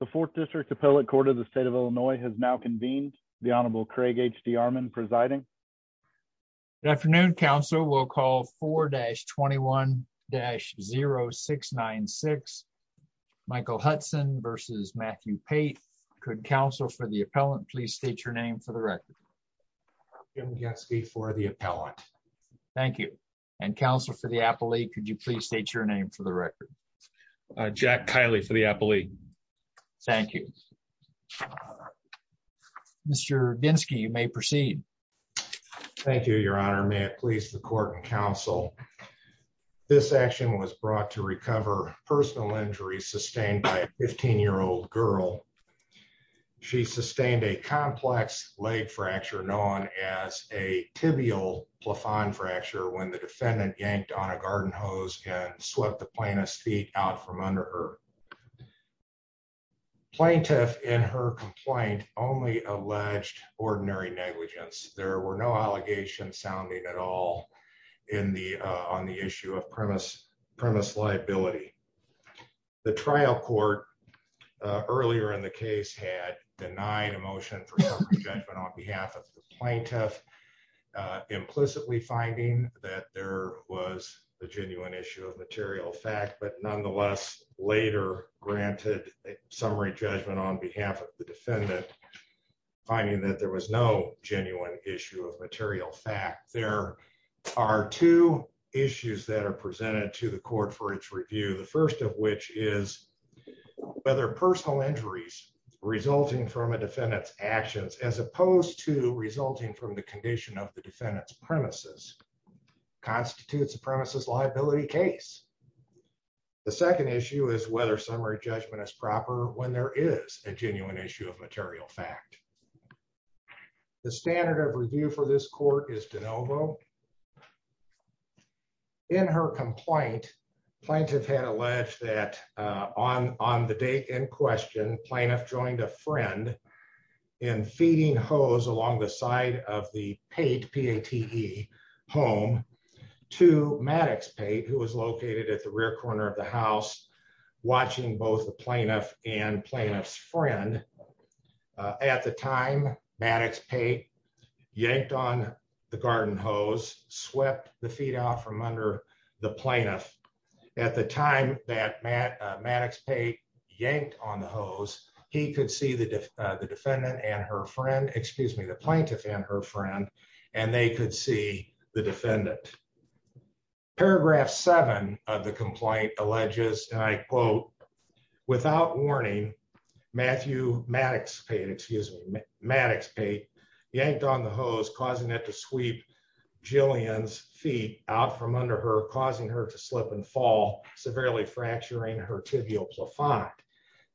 The Fourth District Appellate Court of the State of Illinois has now convened. The Honorable Craig H.D. Armon presiding. Good afternoon, counsel. We'll call 4-21-0696. Michael Hudson v. Matthew Pate. Could counsel for the appellant please state your name for the record. Jim Getsky for the appellant. Thank you. And counsel for the appellate, could you please state your name for the record. Jack Kiley for the appellate. Thank you. Mr. Getsky, you may proceed. Thank you, your honor. May it please the court and counsel. This action was brought to recover personal injuries sustained by a 15-year-old girl. She sustained a complex leg fracture known as a tibial plafond fracture when the defendant yanked on a garden hose and swept the plaintiff's feet out from under her. Plaintiff in her complaint only alleged ordinary negligence. There were no allegations sounding at all on the issue of premise liability. The trial court earlier in the case had denied a motion for summary judgment on behalf of the plaintiff. Implicitly finding that there was a genuine issue of material fact, but nonetheless later granted a summary judgment on behalf of the defendant. Finding that there was no genuine issue of material fact, there are two issues that are presented to the court for its review. The first of which is whether personal injuries resulting from a defendant's actions as opposed to resulting from the condition of the defendant's premises constitutes a premises liability case. The second issue is whether summary judgment is proper when there is a genuine issue of material fact. The standard of review for this court is de novo. In her complaint, plaintiff had alleged that on the day in question, plaintiff joined a friend in feeding hose along the side of the Pate, P-A-T-E home to Maddox Pate, who was located at the rear corner of the house, watching both the plaintiff and plaintiff's friend. At the time, Maddox Pate yanked on the garden hose, swept the feed off from under the plaintiff. At the time that Maddox Pate yanked on the hose, he could see the defendant and her friend, excuse me, the plaintiff and her friend, and they could see the defendant. Paragraph seven of the complaint alleges, and I quote, without warning, Maddox Pate yanked on the hose, causing it to sweep Jillian's feet out from under her, causing her to slip and fall, severely fracturing her tibial plafont.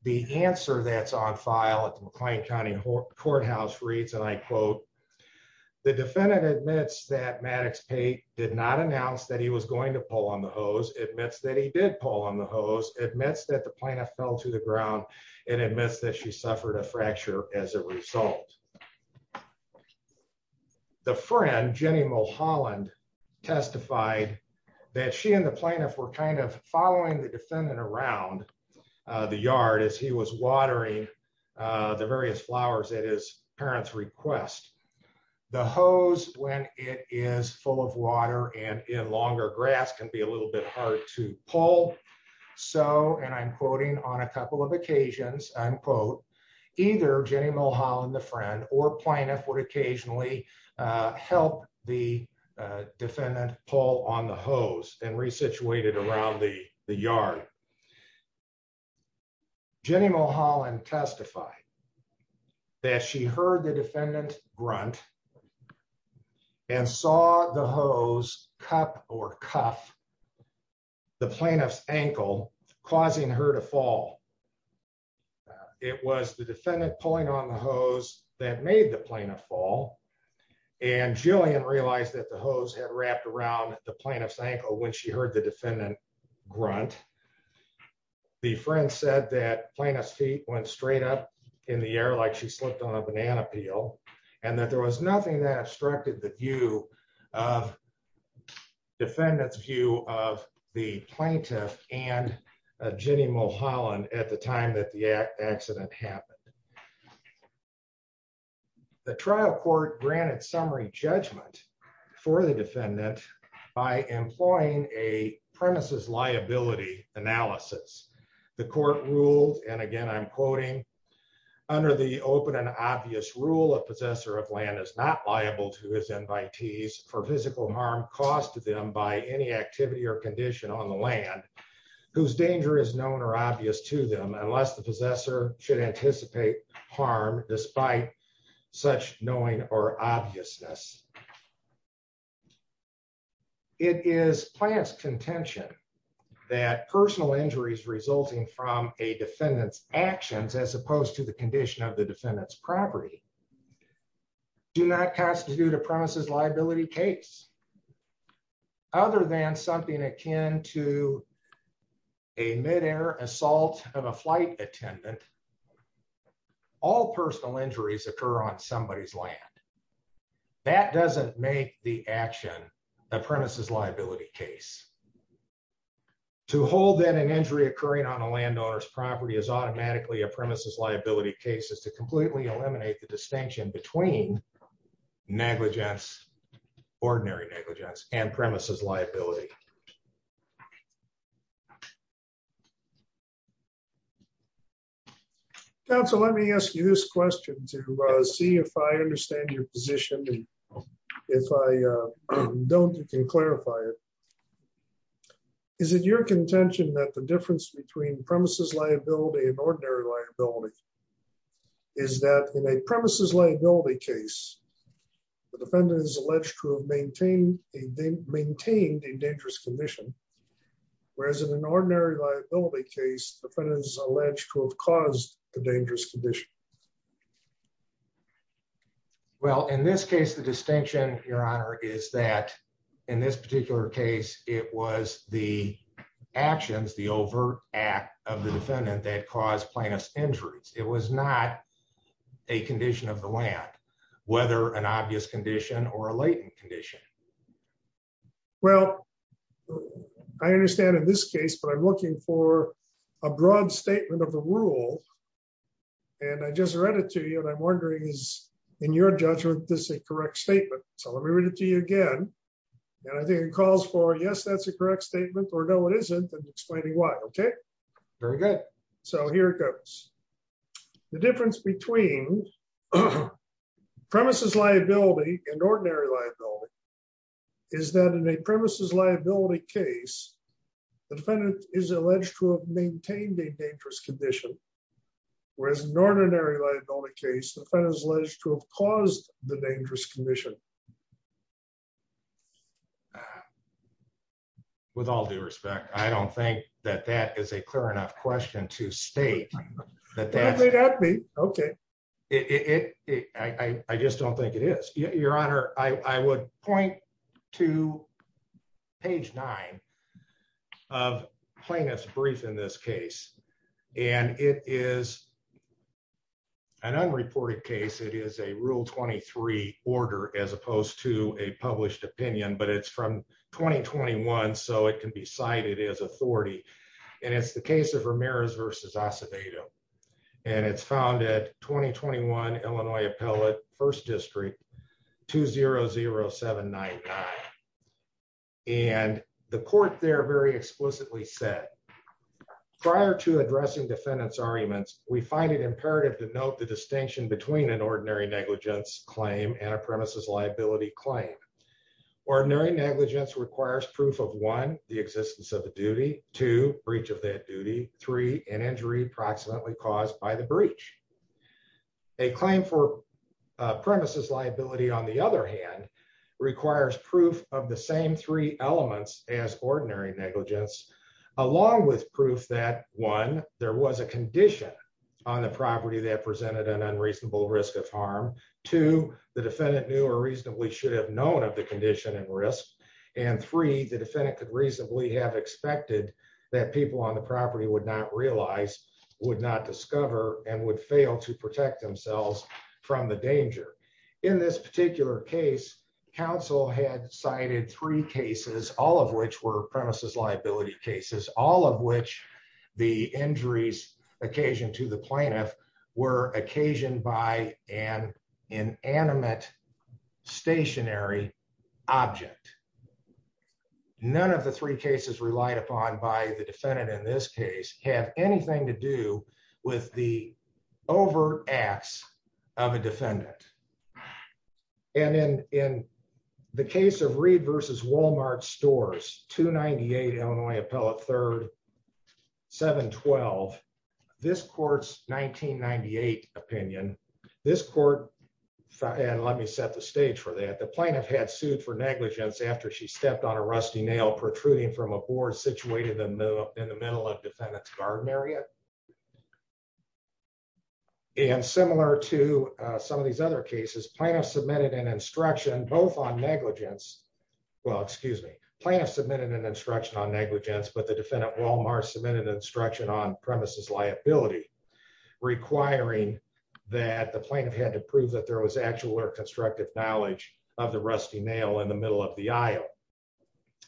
The answer that's on file at the McLean County Courthouse reads, and I quote, the defendant admits that Maddox Pate did not announce that he was going to pull on the hose, admits that he did pull on the hose, admits that the plaintiff fell to the ground, and admits that she suffered a fracture as a result. The friend, Jenny Mulholland, testified that she and the plaintiff were kind of following the defendant around the yard as he was watering the various flowers at his parents' request. The hose, when it is full of water and in longer grass, can be a little bit hard to pull. So, and I'm quoting, on a couple of occasions, I quote, either Jenny Mulholland, the friend, or plaintiff, would occasionally help the defendant pull on the hose and re-situate it around the yard. Jenny Mulholland testified that she heard the defendant grunt and saw the hose cup or cuff the plaintiff's ankle, causing her to fall. It was the defendant pulling on the hose that made the plaintiff fall, and Jillian realized that the hose had wrapped around the plaintiff's ankle when she heard the defendant grunt. The friend said that plaintiff's feet went straight up in the air like she slipped on a banana peel, and that there was nothing that obstructed the view of, defendant's view of the plaintiff and Jenny Mulholland at the time that the accident happened. The trial court granted summary judgment for the defendant by employing a premises liability analysis. The court ruled, and again I'm quoting, under the open and obvious rule, a possessor of land is not liable to his invitees for physical harm caused to them by any activity or condition on the land, whose danger is known or obvious to them, unless the possessor should anticipate harm, despite such knowing or obviousness. It is plaintiff's contention that personal injuries resulting from a defendant's actions, as opposed to the condition of the defendant's property, do not constitute a premises liability case. Other than something akin to a mid-air assault of a flight attendant, all personal injuries occur on somebody's land. That doesn't make the action a premises liability case. To hold that an injury occurring on a landowner's property is automatically a premises liability case is to completely eliminate the distinction between negligence, ordinary negligence, and premises liability. Counsel, let me ask you this question to see if I understand your position, and if I don't, you can clarify it. Is it your contention that the difference between premises liability and ordinary liability is that in a premises liability case, the defendant is alleged to have maintained a dangerous condition, whereas in an ordinary liability case, the defendant is alleged to have caused a dangerous condition? Well, in this case, the distinction, Your Honor, is that in this particular case, it was the actions, the overt act of the defendant that caused plaintiff's injuries. It was not a condition of the land, whether an obvious condition or a latent condition. Well, I understand in this case, but I'm looking for a broad statement of the rule, and I just read it to you, and I'm wondering is, in your judgment, this a correct statement? So let me read it to you again. And I think it calls for, yes, that's a correct statement, or no, it isn't, and explaining why. Okay? Very good. So here it goes. The difference between premises liability and ordinary liability is that in a premises liability case, the defendant is alleged to have maintained a dangerous condition, whereas in an ordinary liability case, the defendant is alleged to have caused the dangerous condition. With all due respect, I don't think that that is a clear enough question to state. That may not be. Okay. I just don't think it is. Your Honor, I would point to page nine of plaintiff's brief in this case, and it is an unreported case. It is a Rule 23 order as opposed to a published opinion, but it's from 2021, so it can be cited as authority, and it's the case of Ramirez v. Acevedo, and it's found at 2021 Illinois Appellate, 1st District, 200799. And the court there very explicitly said, prior to addressing defendant's arguments, we find it imperative to note the distinction between an ordinary negligence claim and a premises liability claim. Ordinary negligence requires proof of one, the existence of the duty, two, breach of that duty, three, an injury approximately caused by the breach. A claim for premises liability, on the other hand, requires proof of the same three elements as ordinary negligence, along with proof that one, there was a condition on the property that presented an unreasonable risk of harm, two, the defendant knew or reasonably should have known of the condition and risk, and three, the defendant could reasonably have expected that people on the property would not realize, would not discover, and would fail to protect themselves from the danger. In this particular case, counsel had cited three cases, all of which were premises liability cases, all of which the injuries occasioned to the plaintiff were occasioned by an inanimate stationary object. None of the three cases relied upon by the defendant in this case have anything to do with the overt acts of a defendant. And in the case of Reed v. Walmart Stores, 298 Illinois Appellate 3rd, 712, this court's 1998 opinion, this court, and let me set the stage for that, the plaintiff had sued for negligence after she stepped on a rusty nail protruding from a board situated in the middle of the defendant's garden area. And similar to some of these other cases, plaintiff submitted an instruction both on negligence, well, excuse me, plaintiff submitted an instruction on negligence, but the defendant, Walmart, submitted instruction on premises liability, requiring that the plaintiff had to prove that there was actual or constructive knowledge of the rusty nail in the middle of the aisle.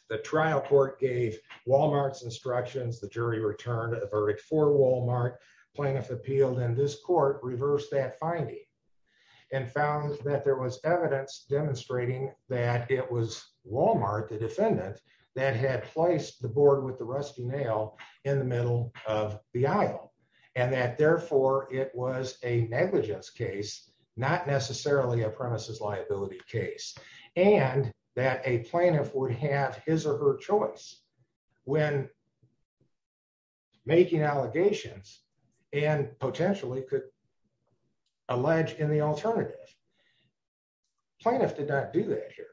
The trial court gave Walmart's instructions, the jury returned a verdict for Walmart, plaintiff appealed, and this court reversed that finding and found that there was evidence demonstrating that it was Walmart, the defendant, that had placed the board with the rusty nail in the middle of the aisle. And that, therefore, it was a negligence case, not necessarily a premises liability case, and that a plaintiff would have his or her choice when making allegations and potentially could allege in the alternative. Plaintiff did not do that here.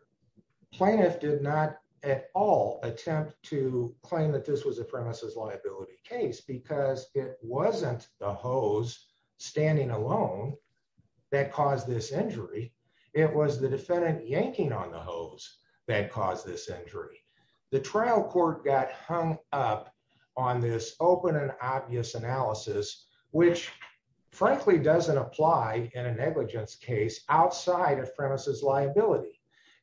Plaintiff did not at all attempt to claim that this was a premises liability case because it wasn't the hose standing alone that caused this injury, it was the defendant yanking on the hose that caused this injury. The trial court got hung up on this open and obvious analysis, which frankly doesn't apply in a negligence case outside of premises liability,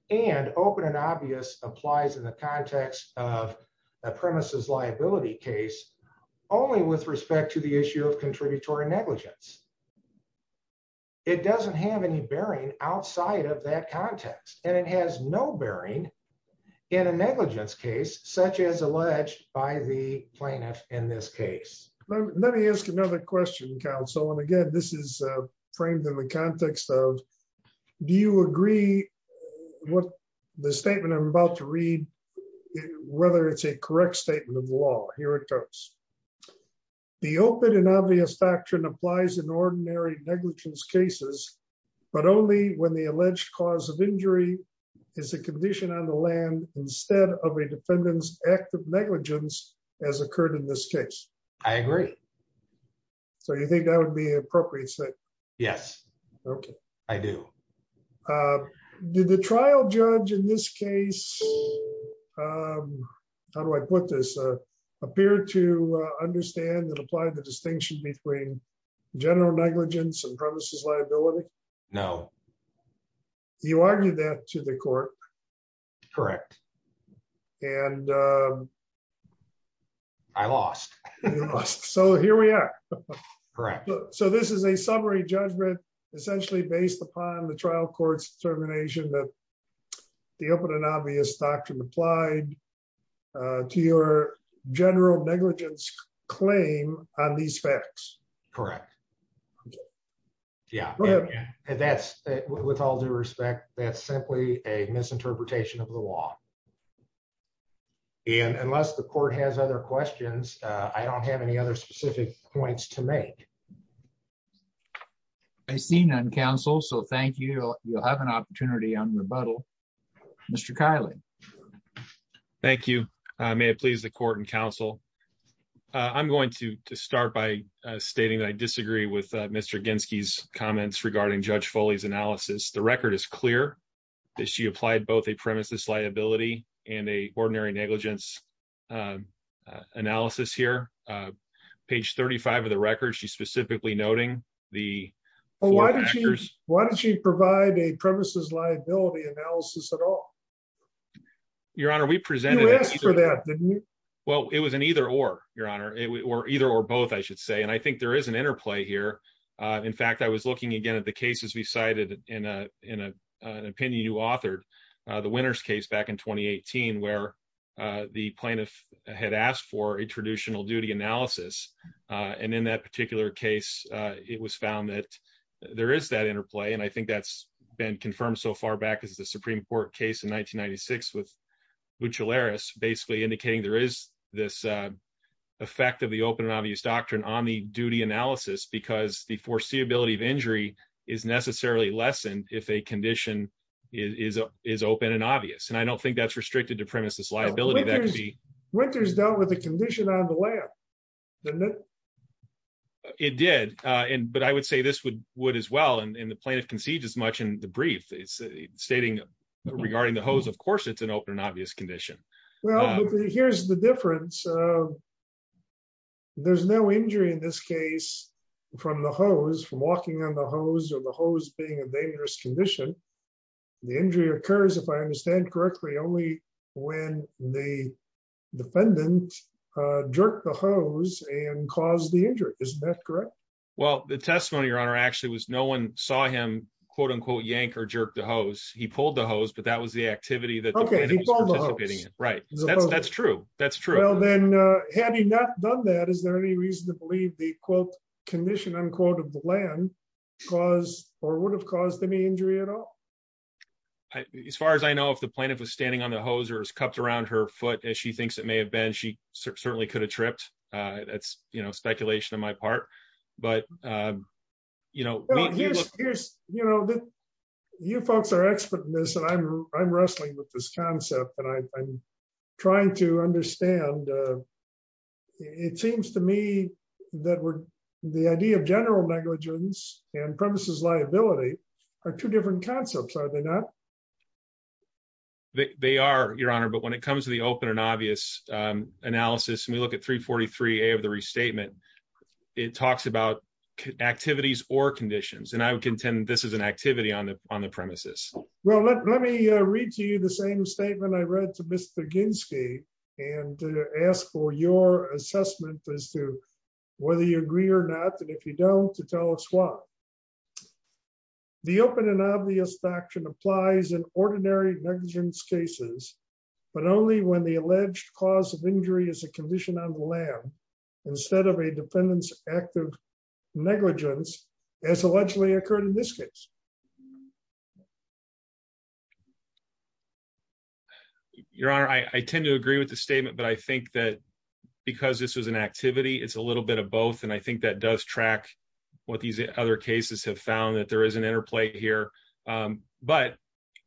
and open and obvious applies in the context of a premises liability case, only with respect to the issue of contributory negligence. It doesn't have any bearing outside of that context, and it has no bearing in a negligence case, such as alleged by the plaintiff in this case. Let me ask another question, counsel, and again, this is framed in the context of, do you agree with the statement I'm about to read, whether it's a correct statement of law? Here it goes. The open and obvious doctrine applies in ordinary negligence cases, but only when the alleged cause of injury is a condition on the land instead of a defendant's act of negligence, as occurred in this case. I agree. So you think that would be an appropriate statement? Yes. Okay. I do. Did the trial judge in this case, how do I put this, appear to understand and apply the distinction between general negligence and premises liability? No. You argued that to the court. Correct. And I lost. So here we are. Correct. So this is a summary judgment, essentially based upon the trial court's determination that the open and obvious doctrine applied to your general negligence claim on these facts. Correct. Yeah. And that's, with all due respect, that's simply a misinterpretation of the law. And unless the court has other questions, I don't have any other specific points to make. I see none, counsel. So thank you. You'll have an opportunity on rebuttal. Mr. Kiley. Thank you. May it please the court and counsel. I'm going to start by stating that I disagree with Mr. Ginsky's comments regarding Judge Foley's analysis. The record is clear that she applied both a premises liability and a ordinary negligence analysis here. Page 35 of the record, she's specifically noting the factors. Why did she provide a premises liability analysis at all? Your Honor, we presented... You asked for that, didn't you? Well, it was an either or, Your Honor, or either or both, I should say. And I think there is an interplay here. In fact, I was looking again at the cases we cited in an opinion you authored, the Winters case back in 2018, where the plaintiff had asked for a traditional duty analysis. And in that particular case, it was found that there is that interplay. And I think that's been confirmed so far back as the Supreme Court case in 1996 with Buccellaris basically indicating there is this effect of the open and obvious doctrine on the duty analysis because the foreseeability of injury is necessarily less than if a condition is open and obvious. And I don't think that's restricted to premises liability. Winters dealt with the condition on the layup, didn't it? It did. But I would say this would as well. And the plaintiff conceived as much in the brief, stating regarding the hose, of course, it's an open and obvious condition. Well, here's the difference. There's no injury in this case from the hose, from walking on the hose or the hose being a dangerous condition. The injury occurs, if I understand correctly, only when the defendant jerked the hose and caused the injury. Isn't that correct? Well, the testimony, Your Honor, actually was no one saw him, quote unquote, yank or jerk the hose. He pulled the hose, but that was the activity that the plaintiff was participating in. Right. That's true. That's true. Well, then, had he not done that, is there any reason to believe the quote condition unquote of the land cause or would have caused any injury at all? As far as I know, if the plaintiff was standing on the hose or is cupped around her foot, as she thinks it may have been, she certainly could have tripped. That's, you know, speculation on my part. But, you know, you know, you folks are expert in this and I'm I'm wrestling with this concept and I'm trying to understand. It seems to me that the idea of general negligence and premises liability are two different concepts, are they not? They are, Your Honor. But when it comes to the open and obvious analysis and we look at 343 of the restatement, it talks about activities or conditions. And I would contend this is an activity on the on the premises. Well, let me read to you the same statement I read to Mr. Ginski and ask for your assessment as to whether you agree or not. And if you don't, to tell us why. The open and obvious doctrine applies in ordinary negligence cases, but only when the alleged cause of injury is a condition on the land instead of a defendant's active negligence as allegedly occurred in this case. Your Honor, I tend to agree with the statement, but I think that because this was an activity, it's a little bit of both. And I think that does track what these other cases have found, that there is an interplay here. But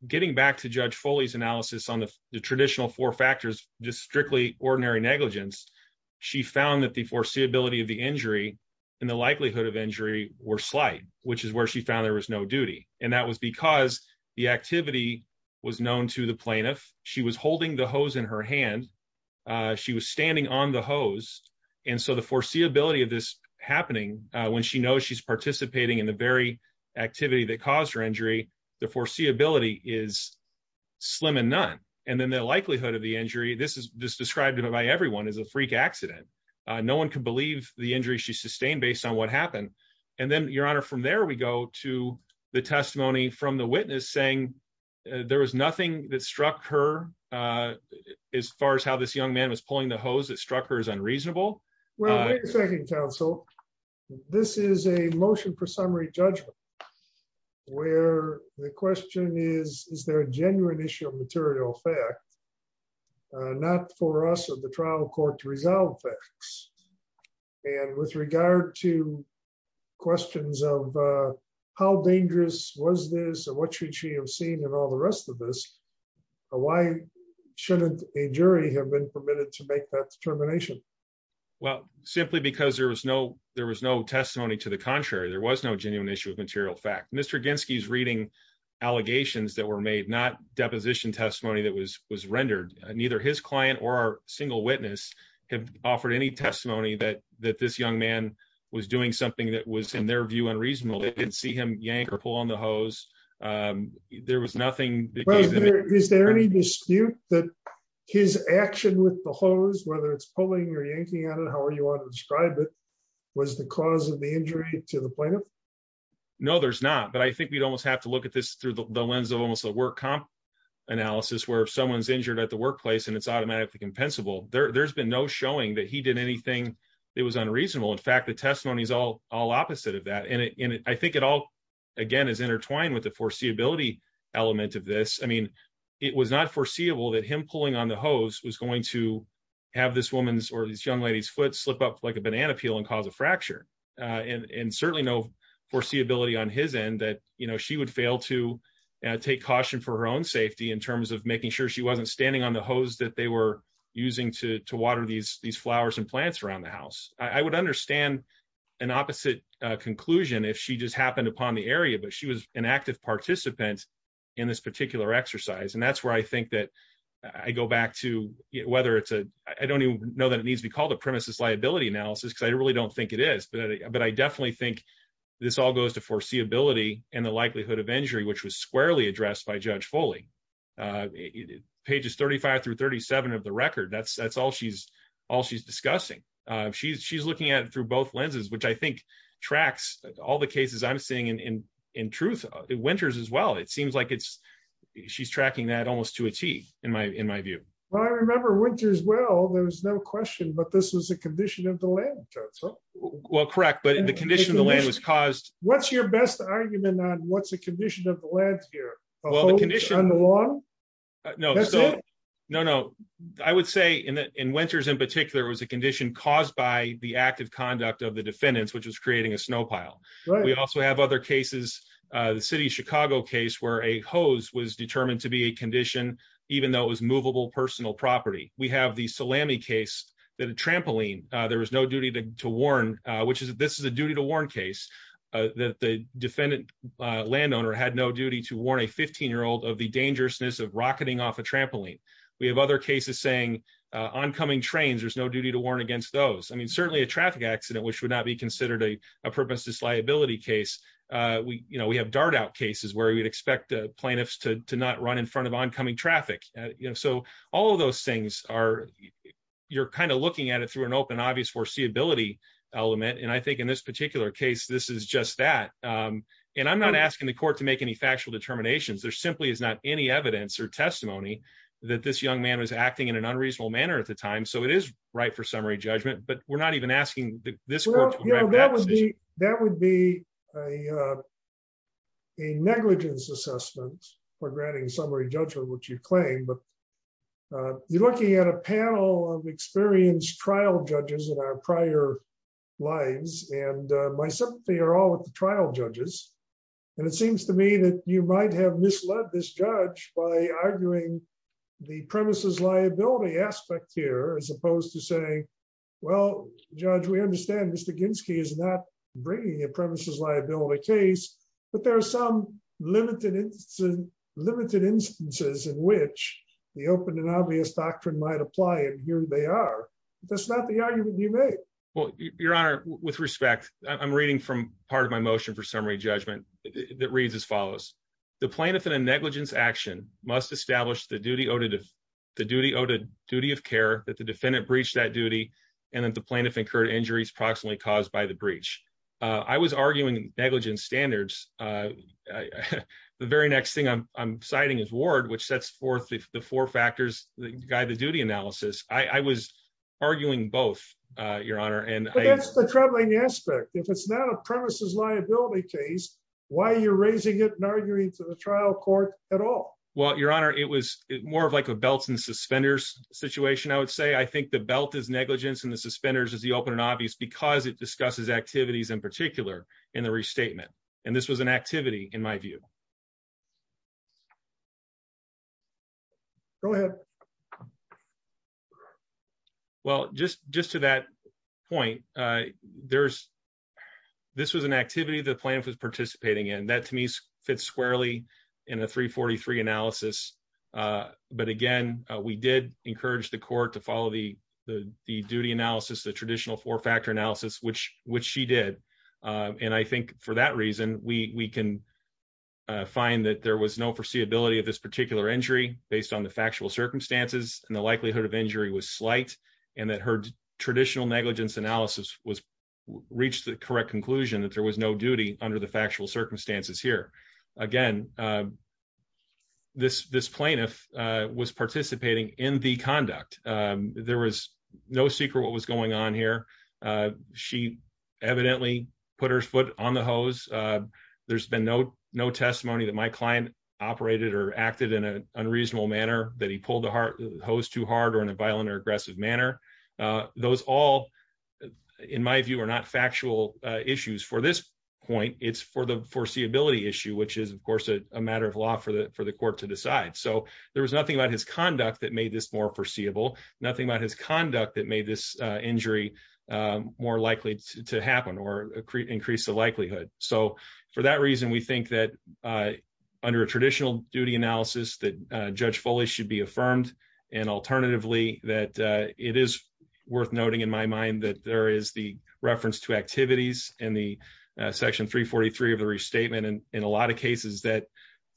getting back to Judge Foley's analysis on the traditional four factors, just strictly ordinary negligence. She found that the foreseeability of the injury and the likelihood of injury were slight, which is where she found there was no duty. And that was because the activity was known to the plaintiff. She was holding the hose in her hand. She was standing on the hose. And so the foreseeability of this happening when she knows she's participating in the very activity that caused her injury, the foreseeability is slim and none. And then the likelihood of the injury, this is described by everyone, is a freak accident. No one can believe the injury she sustained based on what happened. And then, Your Honor, from there we go to the testimony from the witness saying there was nothing that struck her as far as how this young man was pulling the hose that struck her as unreasonable. Well, wait a second, counsel. This is a motion for summary judgment, where the question is, is there a genuine issue of material fact? Not for us or the trial court to resolve facts. And with regard to questions of how dangerous was this and what should she have seen and all the rest of this, why shouldn't a jury have been permitted to make that determination? Well, simply because there was no there was no testimony to the contrary. There was no genuine issue of material fact. Mr. Ginski is reading allegations that were made, not deposition testimony that was rendered. Neither his client or a single witness have offered any testimony that this young man was doing something that was, in their view, unreasonable. They didn't see him yank or pull on the hose. There was nothing. Is there any dispute that his action with the hose, whether it's pulling or yanking on it, however you want to describe it, was the cause of the injury to the plaintiff? No, there's not. But I think we'd almost have to look at this through the lens of almost a work comp analysis where someone's injured at the workplace and it's automatically compensable. There's been no showing that he did anything that was unreasonable. In fact, the testimony is all opposite of that. And I think it all, again, is intertwined with the foreseeability element of this. I mean, it was not foreseeable that him pulling on the hose was going to have this woman's or this young lady's foot slip up like a banana peel and cause a fracture. And certainly no foreseeability on his end that she would fail to take caution for her own safety in terms of making sure she wasn't standing on the hose that they were using to water these flowers and plants around the house. I would understand an opposite conclusion if she just happened upon the area, but she was an active participant in this particular exercise. And that's where I think that I go back to whether it's a, I don't even know that it needs to be called a premises liability analysis because I really don't think it is. But I definitely think this all goes to foreseeability and the likelihood of injury, which was squarely addressed by Judge Foley. Pages 35 through 37 of the record, that's all she's discussing. She's looking at it through both lenses, which I think tracks all the cases I'm seeing in truth. In Winters as well, it seems like she's tracking that almost to a T in my view. Well, I remember Winters well, there was no question, but this was a condition of the land, Judge. Well, correct, but the condition of the land was caused. What's your best argument on what's the condition of the land here? The hose on the lawn? No, no, no. I would say in Winters in particular was a condition caused by the active conduct of the defendants, which was creating a snow pile. We also have other cases, the city of Chicago case where a hose was determined to be a condition, even though it was movable personal property. We have the salami case that a trampoline, there was no duty to warn, which is this is a duty to warn case that the defendant landowner had no duty to warn a 15 year old of the dangerousness of rocketing off a trampoline. We have other cases saying oncoming trains, there's no duty to warn against those. I mean, certainly a traffic accident, which would not be considered a purpose disliability case. We, you know, we have dart out cases where we'd expect plaintiffs to not run in front of oncoming traffic. You know, so all of those things are, you're kind of looking at it through an open obvious foreseeability element and I think in this particular case, this is just that. And I'm not asking the court to make any factual determinations there simply is not any evidence or testimony that this young man was acting in an unreasonable manner at the time so it is right for summary judgment but we're not even asking this. That would be a negligence assessment for granting summary judgment which you claim but you're looking at a panel of experienced trial judges in our prior lives, and my sympathy are all with the trial judges. And it seems to me that you might have misled this judge by arguing the premises liability aspect here as opposed to say, well, judge we understand Mr Ginski is not bringing a premises liability case, but there are some limited limited instances in which the open and obvious doctrine might apply and here they are. That's not the argument you made. Well, your honor, with respect, I'm reading from part of my motion for summary judgment that reads as follows the plaintiff in a negligence action must establish the duty of the duty of duty of care that the defendant breach that duty, and then the plaintiff incurred injuries approximately caused by the breach. I was arguing negligence standards. The very next thing I'm citing is ward which sets forth the four factors that guide the duty analysis, I was arguing both, Your Honor, and the troubling aspect if it's not a premises liability case, why are you raising it and arguing to the trial court at all. Well, Your Honor, it was more of like a belts and suspenders situation I would say I think the belt is negligence and the suspenders is the open and obvious because it discusses activities in particular in the restatement. And this was an activity, in my view. Go ahead. Well, just, just to that point. There's. This was an activity the plan for participating in that to me fits squarely in a 343 analysis. But again, we did encourage the court to follow the, the duty analysis the traditional four factor analysis which which she did. And I think for that reason, we can find that there was no foreseeability of this particular injury, based on the factual circumstances and the likelihood of injury was slight, and that her traditional negligence analysis was reached the correct conclusion that there was no duty under the factual circumstances here. Again, this this plaintiff was participating in the conduct. There was no secret what was going on here. She evidently put her foot on the hose. There's been no no testimony that my client operated or acted in an unreasonable manner that he pulled the hose too hard or in a violent or aggressive manner. Those all, in my view, are not factual issues for this point, it's for the foreseeability issue which is of course a matter of law for the for the court to decide so there was nothing about his conduct that made this more foreseeable, nothing about his It is worth noting in my mind that there is the reference to activities in the section 343 of the restatement and in a lot of cases that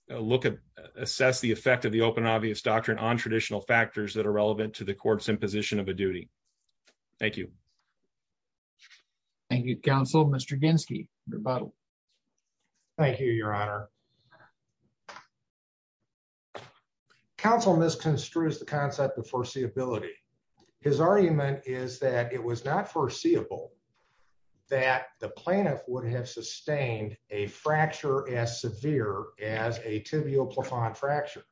look at assess the effect of the open obvious doctrine on traditional factors that are relevant to the courts in position of a duty. Thank you. Thank you, Council, Mr Ginski, your bottle. Thank you, Your Honor. Thank you. Council misconstrues the concept of foreseeability. His argument is that it was not foreseeable that the plaintiff would have sustained a fracture as severe as a tibial plaquen fracture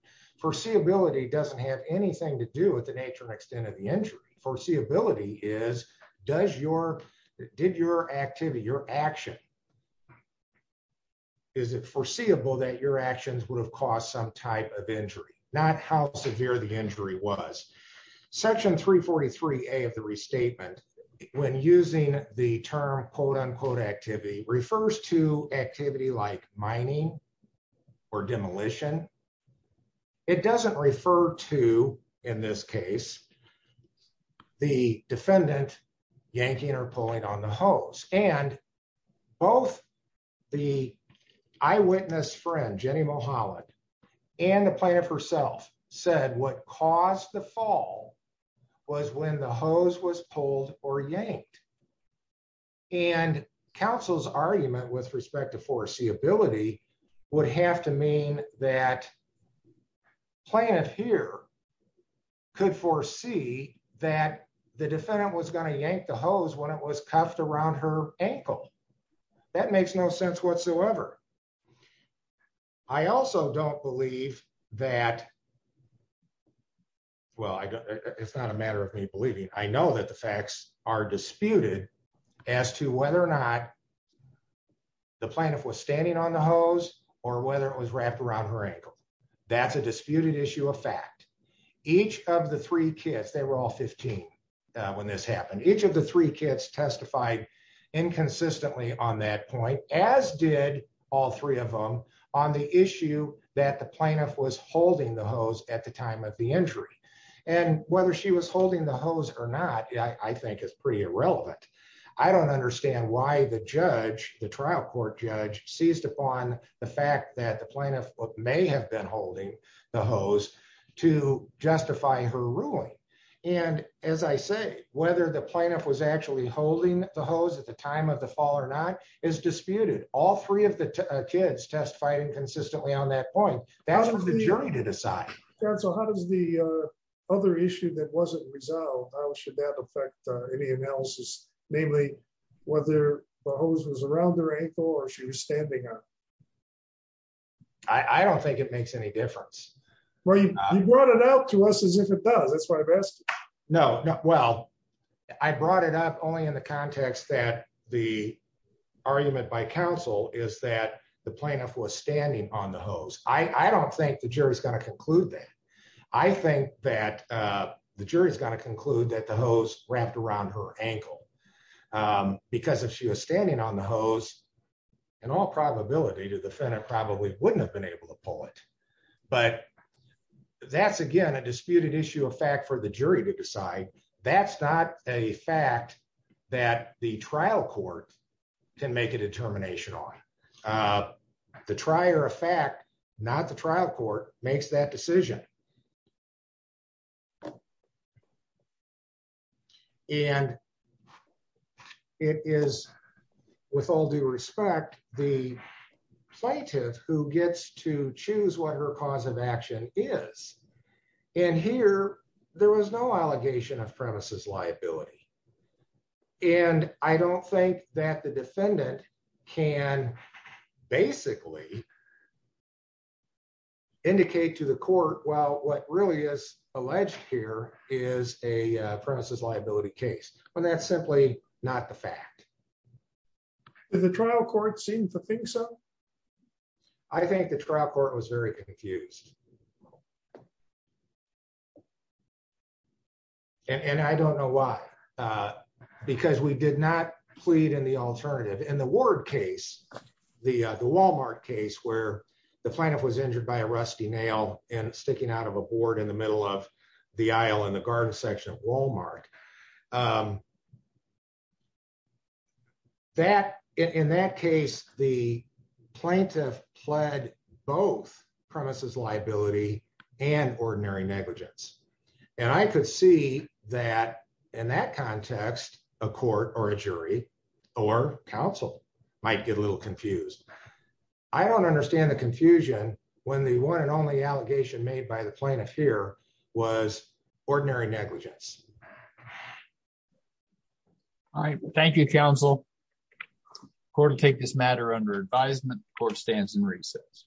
foreseeability doesn't have anything to do with the nature and extent of the injury foreseeability is does your did your activity your action. Is it foreseeable that your actions would have caused some type of injury, not how severe the injury was section 343 a of the restatement when using the term quote unquote activity refers to activity like mining or demolition. It doesn't refer to, in this case, the defendant, Yankee interpolate on the hose, and both the eyewitness friend Jenny Mohan and the plan of herself said what caused the fall was when the hose was pulled or yanked. And Council's argument with respect to foreseeability would have to mean that planet here could foresee that the defendant was going to yank the hose when it was cuffed around her ankle. That makes no sense whatsoever. I also don't believe that. Well, it's not a matter of me believing I know that the facts are disputed as to whether or not the planet was standing on the hose, or whether it was wrapped around her ankle. That's a disputed issue of fact, each of the three kids they were all 15. When this happened, each of the three kids testified inconsistently on that point, as did all three of them on the issue that the planet was holding the hose at the time of the holding the hose to justify her ruling. And as I say, whether the planet was actually holding the hose at the time of the fall or not is disputed, all three of the kids test fighting consistently on that point, that was the jury to decide. So how does the other issue that wasn't resolved, how should that affect any analysis, namely, whether the hose was around their ankle or she was standing up. I don't think it makes any difference. Well, you brought it out to us as if it does. That's why I best know. Well, I brought it up only in the context that the argument by counsel is that the planet was standing on the hose, I don't think the jury is going to conclude that I think that the jury is going to conclude that the hose wrapped around her ankle. Because if she was standing on the hose, and all probability to defend it probably wouldn't have been able to pull it. But that's again a disputed issue of fact for the jury to decide. That's not a fact that the trial court can make a determination on the trier of fact, not the trial court makes that decision. And it is, with all due respect, the plaintiff who gets to choose what her cause of action is. And here, there was no allegation of premises liability. And I don't think that the defendant can basically indicate to the court well what really is alleged here is a premises liability case, when that's simply not the fact that the trial court seems to think so. I think the trial court was very confused. And I don't know why. Because we did not plead in the alternative and the word case. The, the Walmart case where the planet was injured by a rusty nail and sticking out of a board in the middle of the aisle in the garden section of Walmart. That, in that case, the plaintiff pled both premises liability and ordinary negligence. And I could see that in that context, a court or a jury or counsel might get a little confused. I don't understand the confusion, when the one and only allegation made by the plaintiff here was ordinary negligence. All right, thank you counsel court take this matter under advisement court stands in recess.